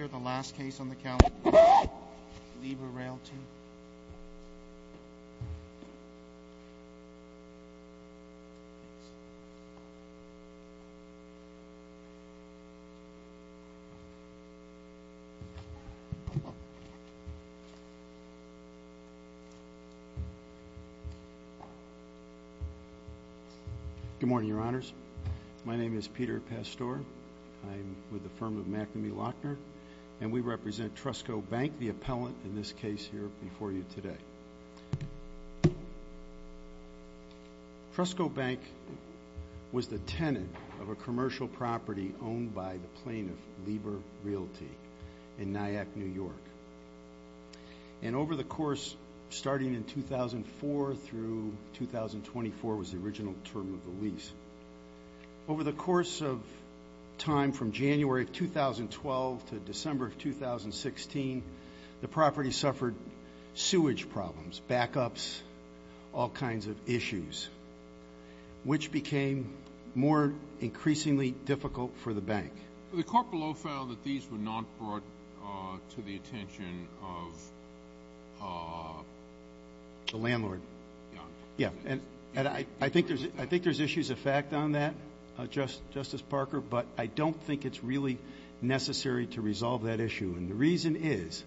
here. The last case on the count, Lieber Realty. Good morning, your honors. My name is Peter Pastor. I'm with the firm of McNamee Lochner, and we represent Trustco Bank, the appellant in this case here before you today. Trustco Bank was the tenant of a commercial property owned by the plaintiff, Lieber Realty, in Nyack, New York. And over the course, starting in 2004 through 2024, was the original term of the lease. Over the course of time from January of 2012 to December of 2016, the property suffered sewage problems, backups, all kinds of issues, which became more increasingly difficult for the bank. The court below found that these were not brought to the I think there's issues of fact on that, Justice Parker, but I don't think it's really necessary to resolve that issue. And the reason is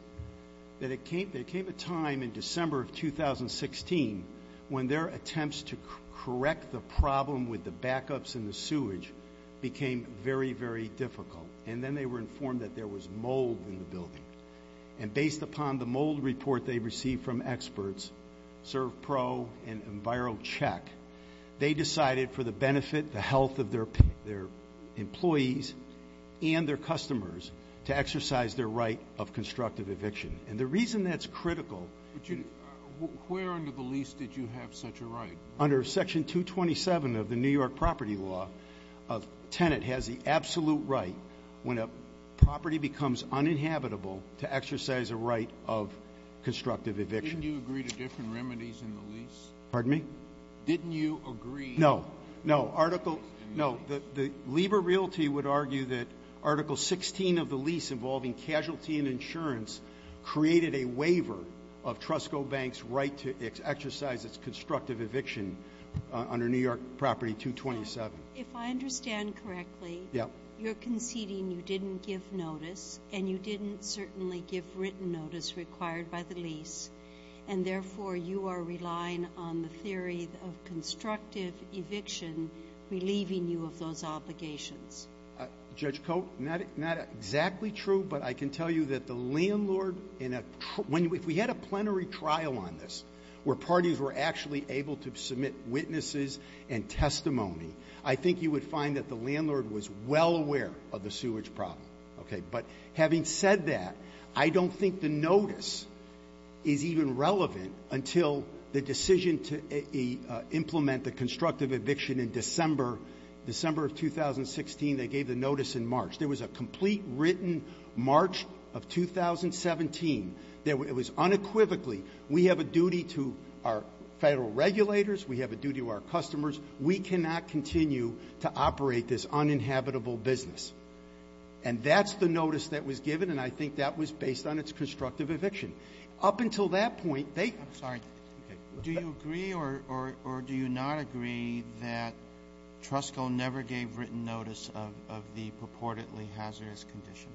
that it came a time in December of 2016 when their attempts to correct the problem with the backups and the sewage became very, very difficult. And then they were informed that there was mold in the building. And based upon the mold report they decided for the benefit, the health of their employees and their customers to exercise their right of constructive eviction. And the reason that's critical... Where under the lease did you have such a right? Under section 227 of the New York property law, a tenant has the absolute right when a property becomes uninhabitable to exercise a right of constructive eviction. Didn't you agree to different remedies in the lease? Pardon me? Didn't you agree... No, no, article... No, the Lieber Realty would argue that article 16 of the lease involving casualty and insurance created a waiver of Trusco Bank's right to exercise its constructive eviction under New York property 227. If I understand correctly, you're conceding you didn't give notice required by the lease and therefore you are relying on the theory of constructive eviction relieving you of those obligations. Judge Cote, not exactly true, but I can tell you that the landlord in a... If we had a plenary trial on this where parties were actually able to submit witnesses and testimony, I think you would find that the landlord was well aware of the sewage problem. Okay. But having said that, I don't think the notice is even relevant until the decision to implement the constructive eviction in December, December of 2016, they gave the notice in March. There was a complete written March of 2017 that it was unequivocally we have a duty to our Federal regulators, we have a duty to our customers, we cannot continue to operate this uninhabitable business. And that's the notice that was given, and I think that was based on its constructive eviction. Up until that point, they... I'm sorry. Do you agree or do you not agree that Trusco never gave written notice of the purportedly hazardous condition?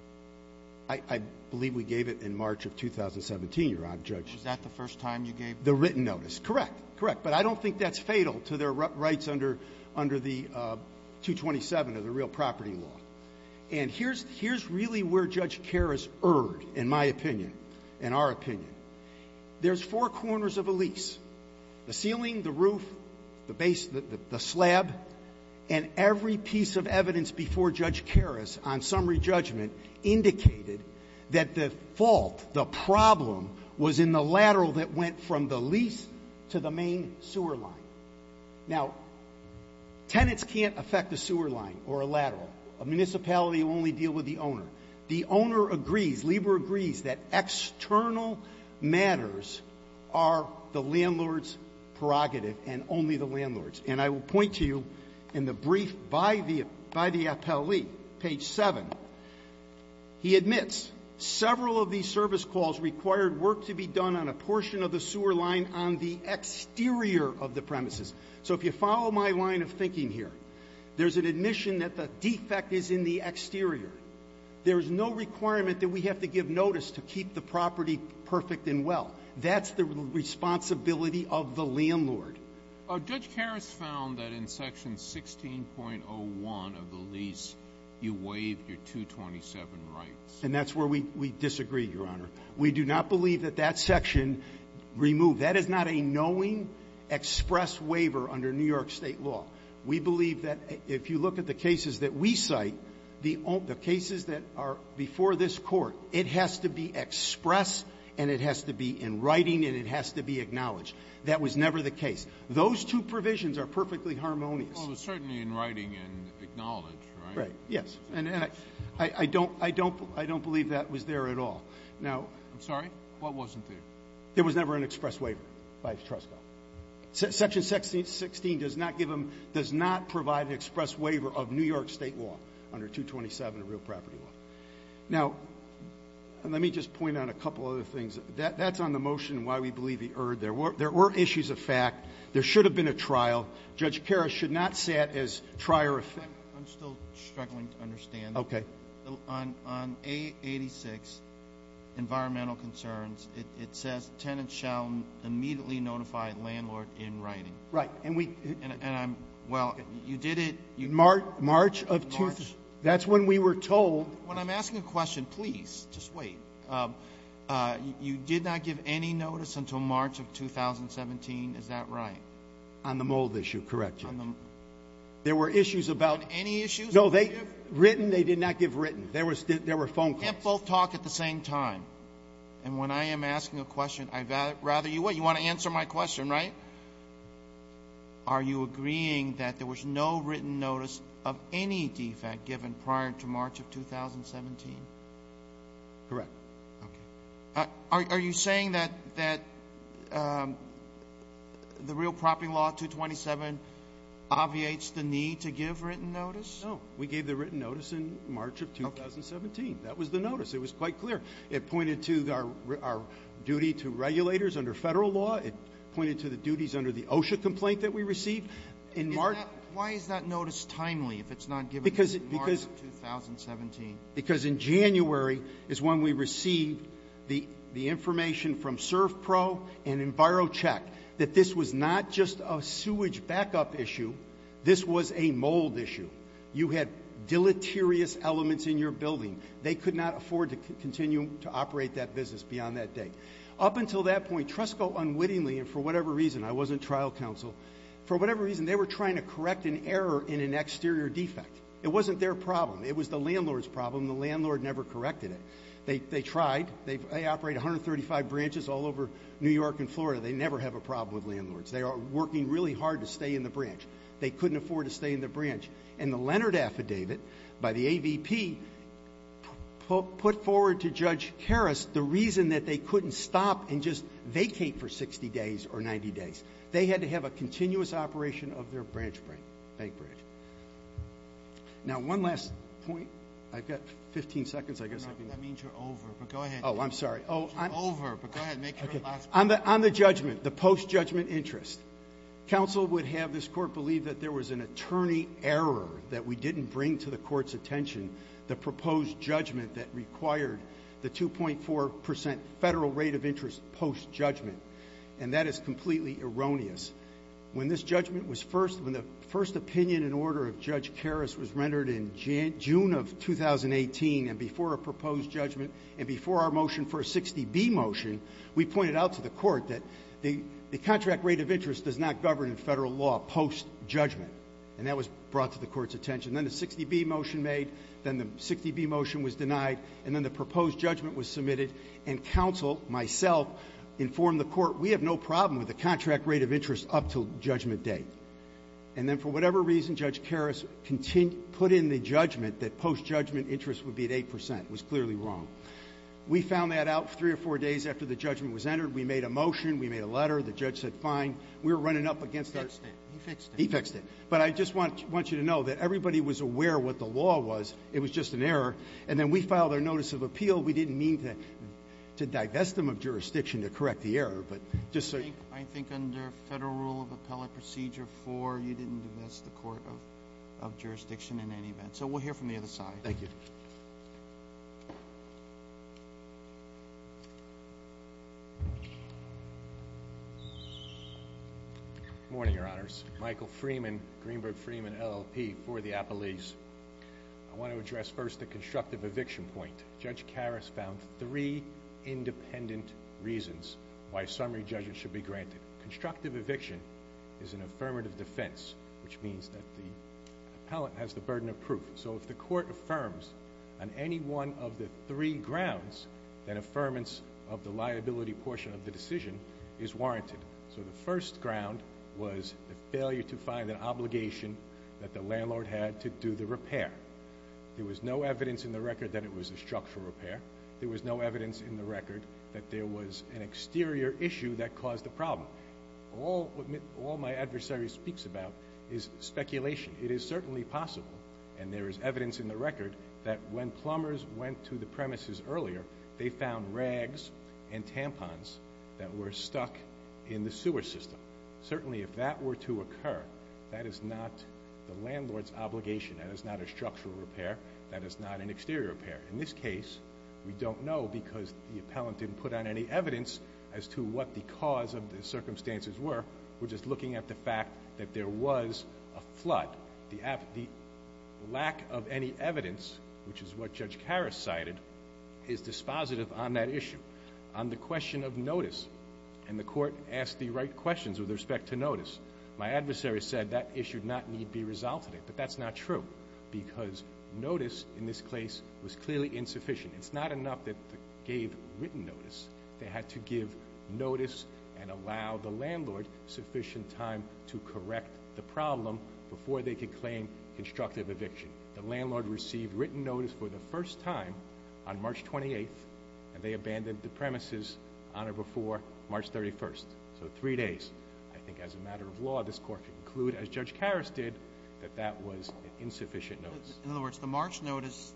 I believe we gave it in March of 2017, Your Honor. Is that the first time you gave... The written notice. Correct. Correct. But I don't think that's fatal to their rights under the 227 of the real property law. And here's really where Judge Karras erred, in my opinion, in our opinion. There's four corners of a lease, the ceiling, the roof, the base, the slab, and every piece of evidence before Judge Karras on summary judgment indicated that the fault, the problem, was in the lateral that went from the lease to the main sewer line. Now, tenants can't affect the sewer line or a lateral. A municipality will only deal with the owner. The owner agrees, Lieber agrees, that external matters are the landlord's prerogative and only the landlord's. And I will point to you in the brief by the appellee, page 7, he admits several of these service calls required work to be done on a portion of the sewer line on the exterior of the premises. So if you follow my line of thinking here, there's an admission that the defect is in the exterior. There's no requirement that we have to give notice to keep the property perfect and well. That's the responsibility of the landlord. Judge Karras found that in section 16.01 of the lease, you waive your 227 rights. And that's where we disagree, Your Honor. We do not believe that that section removed. That is not a knowing, express waiver under New York State law. We believe that if you look at the cases that we cite, the cases that are before this court, it has to be expressed and it has to be in writing and it has to be acknowledged. That was never the case. Those two provisions are perfectly harmonious. It was certainly in writing and acknowledged, right? Right. Yes. And I don't believe that was there at all. Now... I'm sorry? What wasn't there? There was never an express waiver by Trusco. Section 16 does not provide an express waiver of New York State law under 227 of real property law. Now, let me just point out a couple other things. That's on the motion why we believe he erred. There were issues of fact. There should not have been. I'm still struggling to understand. On A86, environmental concerns, it says, tenants shall immediately notify landlord in writing. Right. And we... Well, you did it... March of... That's when we were told... When I'm asking a question, please, just wait. You did not give any notice until March of 2017. Is that right? On the mold issue. Correct. There were issues about... Any issues? No, they... Written, they did not give written. There were phone calls. Can't both talk at the same time. And when I am asking a question, I'd rather you wait. You want to answer my question, right? Are you agreeing that there was no written notice of any defect given prior to March of 2017? Correct. Okay. Are you saying that the real propping law 227 obviates the need to give written notice? No. We gave the written notice in March of 2017. That was the notice. It was quite clear. It pointed to our duty to regulators under federal law. It pointed to the duties under the OSHA complaint that we received. In March... Why is that notice timely if it's not given in March of 2017? Because in January is when we received the information from CERFPRO and EnviroCheck that this was not just a sewage backup issue. This was a mold issue. You had deleterious elements in your building. They could not afford to continue to operate that business beyond that date. Up until that point, TRESCO unwittingly, and for whatever reason, I wasn't trial counsel, for whatever reason, they were trying to correct an error in an exterior defect. It wasn't their problem. It was the landlord's problem. The landlord never corrected it. They tried. They operate 135 branches all over New York and Florida. They never have a problem with landlords. They are working really hard to stay in the branch. They couldn't afford to stay in the branch. And the Leonard Affidavit by the AVP put forward to Judge Harris the reason that they couldn't stop and just vacate for 60 days or 90 days. They had to have a continuous operation of their bank branch. Now, one last point. I've got 15 seconds, I guess. No, that means you're over, but go ahead. Oh, I'm sorry. You're over, but go ahead and make your last point. On the judgment, the post-judgment interest, counsel would have this court believe that there was an attorney error that we didn't bring to the court's attention, the proposed judgment that required the 2.4% federal rate of interest post-judgment. And that is completely erroneous. When this judgment was first, when the first opinion and order of Judge Harris was rendered in June of 2018 and before a proposed judgment and before our motion for a 60B motion, we pointed out to the court that the contract rate of interest does not govern in federal law post-judgment. And that was brought to the court's attention. Then the 60B motion made, then the 60B motion was denied, and then the proposed judgment was submitted. And counsel, myself, informed the court, we have no problem with the contract rate of interest up to judgment date. And then for whatever reason, Judge Harris continued, put in the judgment that post-judgment interest would be at 8%. It was clearly wrong. We found that out three or four days after the judgment was entered. We made a motion. We made a letter. The judge said, fine. We were running up against our- Fixed it. He fixed it. He fixed it. But I just want you to know that everybody was aware what the law was. It was just an error. And then we filed our notice of appeal. We didn't mean to divest them of jurisdiction to correct the error, but just so- I think under federal rule of appellate procedure 4, you didn't divest the court of jurisdiction in any event. So we'll hear from the other side. Thank you. Morning, Your Honors. Michael Freeman, Greenberg Freeman, LLP for the Appalachians. I want to address first the constructive eviction point. Judge Harris found three granted. Constructive eviction is an affirmative defense, which means that the appellate has the burden of proof. So if the court affirms on any one of the three grounds, that affirmance of the liability portion of the decision is warranted. So the first ground was the failure to find an obligation that the landlord had to do the repair. There was no evidence in the record that it was a structural repair. There was no evidence in the record that there was an exterior issue that caused the problem. All my adversary speaks about is speculation. It is certainly possible, and there is evidence in the record, that when plumbers went to the premises earlier, they found rags and tampons that were stuck in the sewer system. Certainly if that were to occur, that is not the landlord's obligation. That is not a structural repair. That is not an obligation. We don't know because the appellant didn't put on any evidence as to what the cause of the circumstances were. We're just looking at the fact that there was a flood. The lack of any evidence, which is what Judge Harris cited, is dispositive on that issue. On the question of notice, and the court asked the right questions with respect to notice, my adversary said that issue did not need to be resolved today. But that's not true, because notice in this case was clearly insufficient. It's not enough that they gave written notice. They had to give notice and allow the landlord sufficient time to correct the problem before they could claim constructive eviction. The landlord received written notice for the first time on March 28th, and they abandoned the premises on or before March 31st. So three days. I think as a matter of law, this court could conclude, as Judge Harris did, that that was an insufficient notice. In other words, the March notice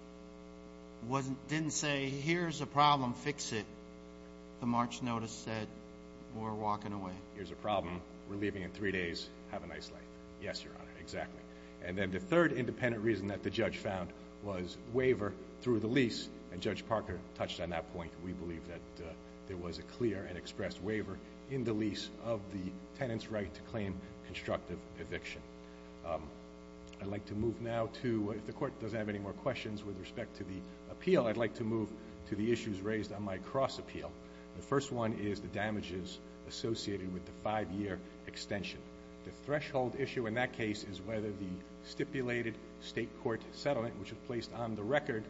didn't say, here's a problem. Fix it. The March notice said, we're walking away. Here's a problem. We're leaving in three days. Have a nice life. Yes, Your Honor. Exactly. And then the third independent reason that the judge found was waiver through the lease, and Judge Parker touched on that point. We believe that there was a clear and expressed waiver in the lease of the tenant's right to claim constructive eviction. I'd like to move now to, if the court doesn't have any more questions with respect to the appeal, I'd like to move to the issues raised on my cross appeal. The first one is the damages associated with the five-year extension. The threshold issue in that case is whether the stipulated state court settlement, which was placed on the record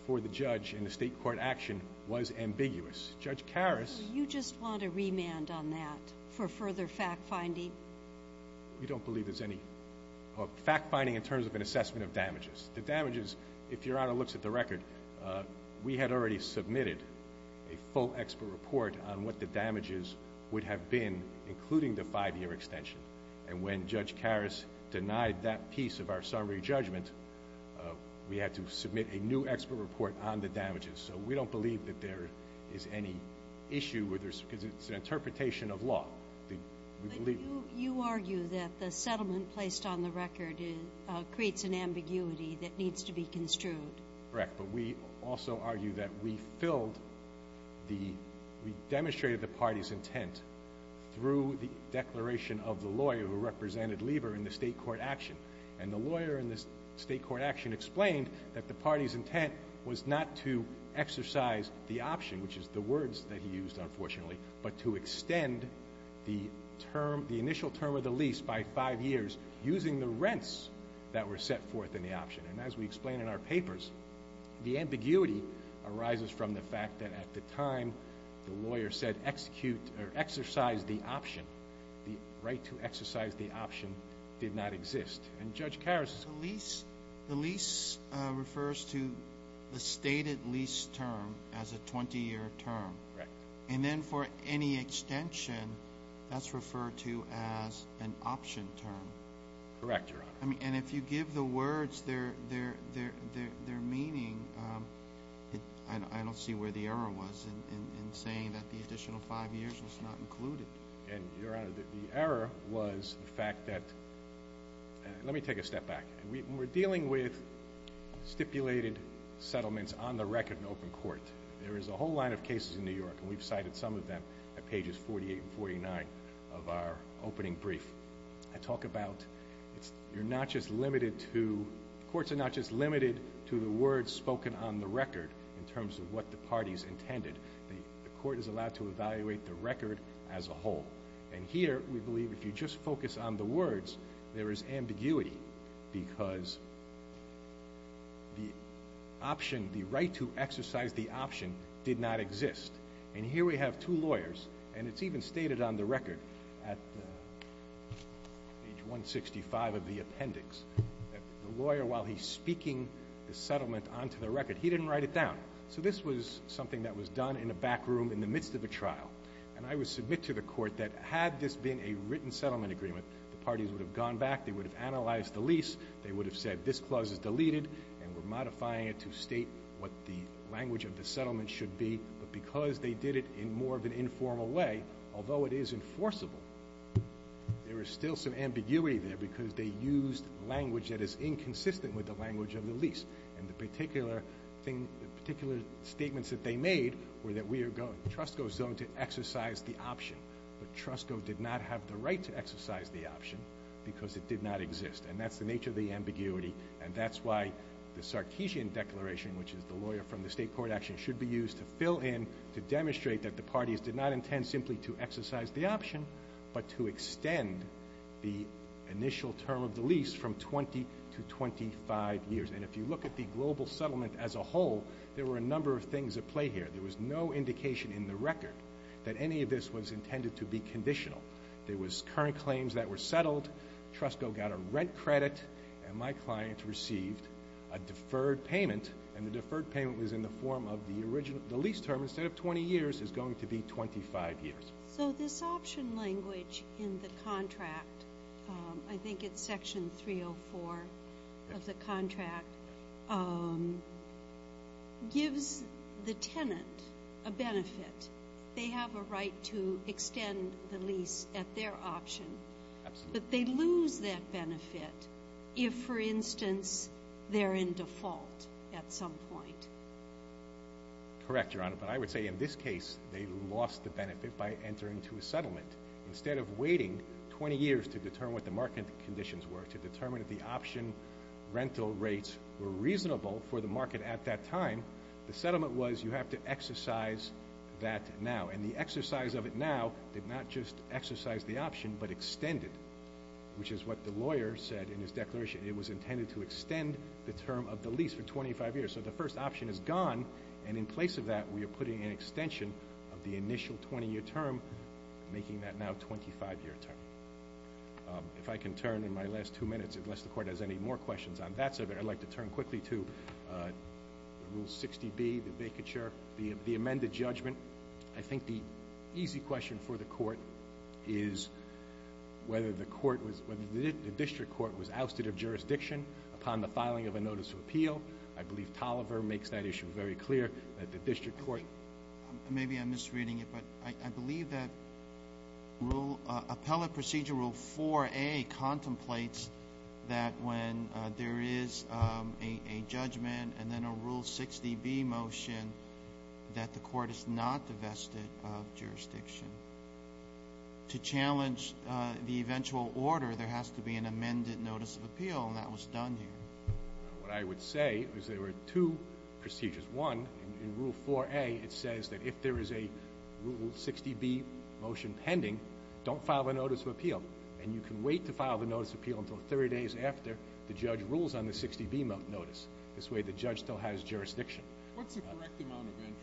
before the judge in the state court action, was ambiguous. Judge Remand, on that, for further fact-finding? We don't believe there's any fact-finding in terms of an assessment of damages. The damages, if Your Honor looks at the record, we had already submitted a full expert report on what the damages would have been, including the five-year extension. And when Judge Harris denied that piece of our summary judgment, we had to submit a new expert report on the damages. So we don't believe that there is any issue, because it's an interpretation of law. But you argue that the settlement placed on the record creates an ambiguity that needs to be construed. Correct. But we also argue that we filled the, we demonstrated the party's intent through the declaration of the lawyer who represented Lever in the state court action. And the lawyer in this state court action explained that the party's intent was not to exercise the option, which is the words that he used, unfortunately, but to extend the term, the initial term of the lease by five years, using the rents that were set forth in the option. And as we explain in our papers, the ambiguity arises from the fact that at the time the lawyer said execute, or exercise the option, the right to exercise the option did not exist. And Judge Harris? The lease, the lease refers to the stated lease term as a 20-year term. Correct. And then for any extension, that's referred to as an option term. Correct, Your Honor. I mean, and if you give the words their, their, their, their, their meaning, I don't see where the error was in saying that the additional five years was not included. And Your Honor, the error was the fact that, let me take a step back. We're dealing with stipulated settlements on the record in open court. There is a whole line of cases in New York, and we've cited some of them at pages 48 and 49 of our opening brief. I talk about, it's, you're not just limited to, courts are not just limited to the words spoken on the record in terms of what the parties intended. The court is allowed to evaluate the record as a whole. And here, we believe if you just focus on the words, there is ambiguity because the option, the right to exercise the option did not exist. And here we have two lawyers, and it's even stated on the record at page 165 of the appendix, that the lawyer, while he's speaking the settlement onto the record, he didn't write it down. So this was something that was done in a back room in the midst of a trial. And I would submit to the court that had this been a written settlement agreement, the parties would have gone back, they would have analyzed the lease, they would have said, this clause is deleted, and we're modifying it to state what the language of the settlement should be. But because they did it in more of an informal way, although it is enforceable, there is still some ambiguity there because they used language that is inconsistent with the language of the lease. And the particular thing, the particular statements that they made were that we are going, TRUSCO is going to exercise the option, but TRUSCO did not have the right to exercise the option because it did not exist. And that's the nature of the ambiguity. And that's why the Sarkeesian Declaration, which is the lawyer from the state court action, should be used to fill in, to demonstrate that the parties did not intend simply to exercise the option, but to extend the initial term of the lease from 20 to 25 years. And if you look at the global settlement as a whole, there were a number of things at play here. There was no indication in the record that any of this was intended to be conditional. There was current claims that were settled, TRUSCO got a rent credit, and my client received a deferred payment, and the deferred payment was in the form of the lease term instead of 20 years is going to be 25 years. So this option language in the contract, I think it's section 304 of the contract, gives the tenant a benefit. They have a right to extend the lease at their option, but they lose that benefit if, for instance, they're in default at some point. Correct, Your Honor, but I would say in this case, they lost the benefit by entering into a settlement. Instead of waiting 20 years to determine what the market conditions were, to determine if the option rental rates were reasonable for the market at that time, the settlement was you have to exercise that now. And the exercise of it now did not just exercise the option, but extend it, which is what the lawyer said in his declaration. It was and in place of that, we are putting an extension of the initial 20-year term, making that now 25-year term. If I can turn in my last two minutes, unless the court has any more questions on that subject, I'd like to turn quickly to Rule 60B, the vacature, the amended judgment. I think the easy question for the court is whether the court was, whether the district court was ousted of jurisdiction upon the filing of a notice of appeal. I believe Tolliver makes that issue very clear, that the district court. Maybe I'm misreading it, but I believe that Rule, Appellate Procedure Rule 4A contemplates that when there is a judgment, and then a Rule 60B motion, that the court is not divested of jurisdiction. To challenge the eventual order, there has to be an amended notice of appeal, and that was done What I would say is there were two procedures. One, in Rule 4A, it says that if there is a Rule 60B motion pending, don't file a notice of appeal, and you can wait to file the notice of appeal until 30 days after the judge rules on the 60B notice. This way, the judge still has jurisdiction. What's the correct amount of interest?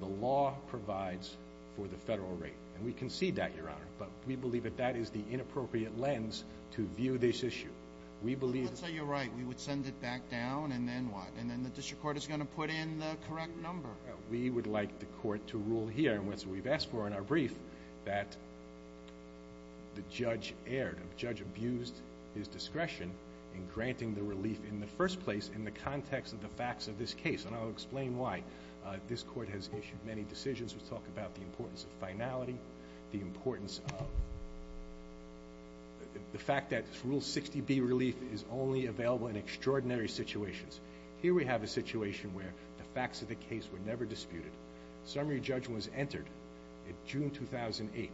The law provides for the federal rate, and we concede that, Your Honor, but we believe that that is the inappropriate lens to view this issue. Let's say you're right. We would send it back down, and then what? And then the district court is going to put in the correct number. We would like the court to rule here, and that's what we've asked for in our brief, that the judge erred. The judge abused his discretion in granting the relief in the first place in the context of the facts of this case, and I'll explain why. This court has issued many decisions which talk about the importance of 60B relief is only available in extraordinary situations. Here we have a situation where the facts of the case were never disputed. Summary judgment was entered in June 2018.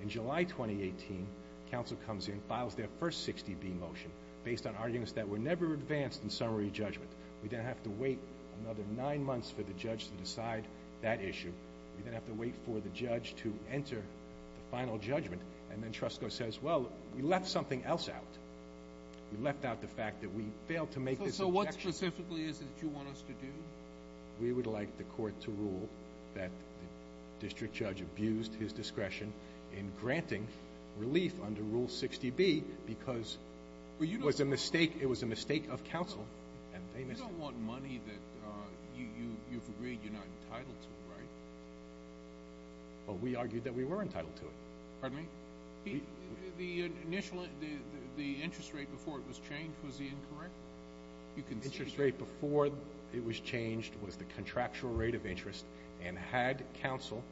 In July 2018, counsel comes in, files their first 60B motion based on arguments that were never advanced in summary judgment. We then have to wait another nine months for the judge to decide that issue. We then have to wait for the judge to enter the final judgment, and then Trusco says, well, we left something else out. We left out the fact that we failed to make this. So what specifically is it you want us to do? We would like the court to rule that the district judge abused his discretion in granting relief under Rule 60B because it was a mistake. It was a mistake of right. But we argued that we were entitled to it. Pardon me? The initial the the interest rate before it was changed was the incorrect? You can interest rate before it was changed was the contractual rate of interest, and had counsel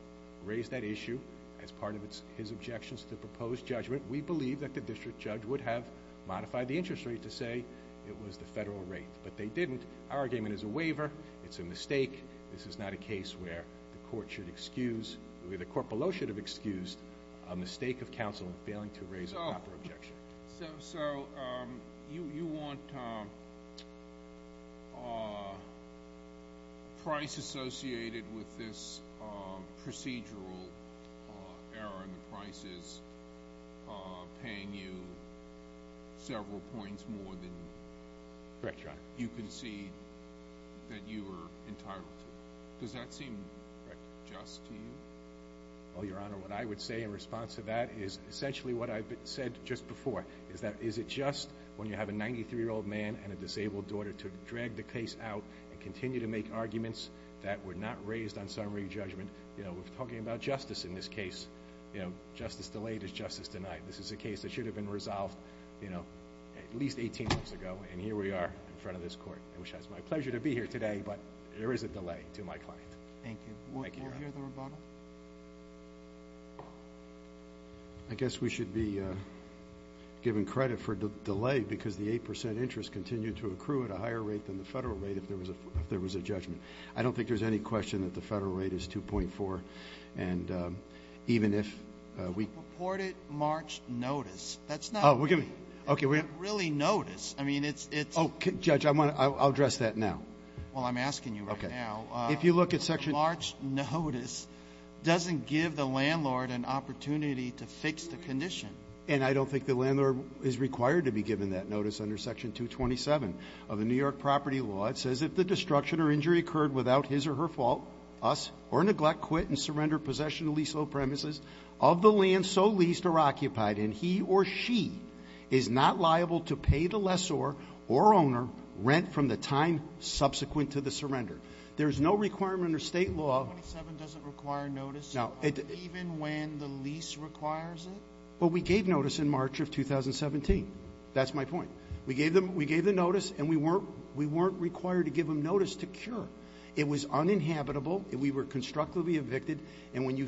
raised that issue as part of its his objections to the proposed judgment, we believe that the district judge would have modified the interest rate to say it was the federal rate, but they didn't. Our argument is a waiver. It's a mistake. This is not a case where the court should excuse, the court below should have excused a mistake of counsel in failing to raise a proper objection. So you want price associated with this procedural error in the prices paying you several points more than correct. You can see that you were entitled. Does that seem just to you? Well, your honor, what I would say in response to that is essentially what I said just before is that is it just when you have a 93 year old man and a disabled daughter to drag the case out and continue to make arguments that were not raised on summary judgment. You know, we're talking about justice in this case. You know, justice delayed is justice tonight. This is a case that should have been resolved, you know, at least 18 months ago. And here we are in front of this court, which has my pleasure to be here today, but there is a delay to my client. Thank you. I guess we should be given credit for the delay because the 8% interest continued to accrue at a higher rate than the federal rate. If there was a, if there was a judgment, I don't think there's any question that the federal rate is 2.4. And even if we reported March notice, that's not really notice. I mean, it's, it's okay. Judge, I want to, I'll address that now. Well, I'm asking you right now. If you look at section March notice, doesn't give the landlord an opportunity to fix the condition. And I don't think the landlord is required to be given that notice under section 227 of the New York property law. It says if the destruction or injury occurred without his or her fault us or neglect, quit and surrender possession of lease, low premises of the land, so leased or occupied in he or she is not liable to pay the lessor or owner rent from the time subsequent to the surrender. There's no requirement or state law. 27 doesn't require notice even when the lease requires it? Well, we gave notice in March of 2017. That's my point. We gave them, we gave the notice and we uninhabitable. We were constructively evicted. And when you,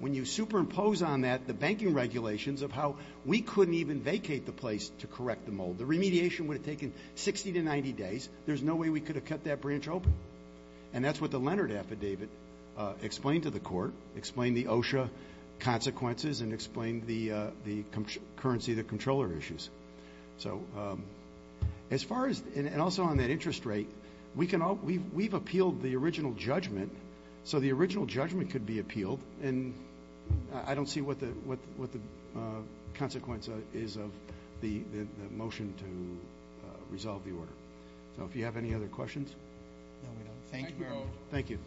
when you superimpose on that, the banking regulations of how we couldn't even vacate the place to correct the mold, the remediation would have taken 60 to 90 days. There's no way we could have cut that branch open. And that's what the Leonard affidavit explained to the court, explained the OSHA consequences and explained the currency, the controller issues. So as far as, and also on that interest rate, we've appealed the original judgment. So the original judgment could be appealed and I don't see what the consequence is of the motion to resolve the order. So if you have any other questions? No, we don't. Thank you. Thank you.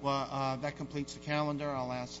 Well, that completes the calendar. I'll ask the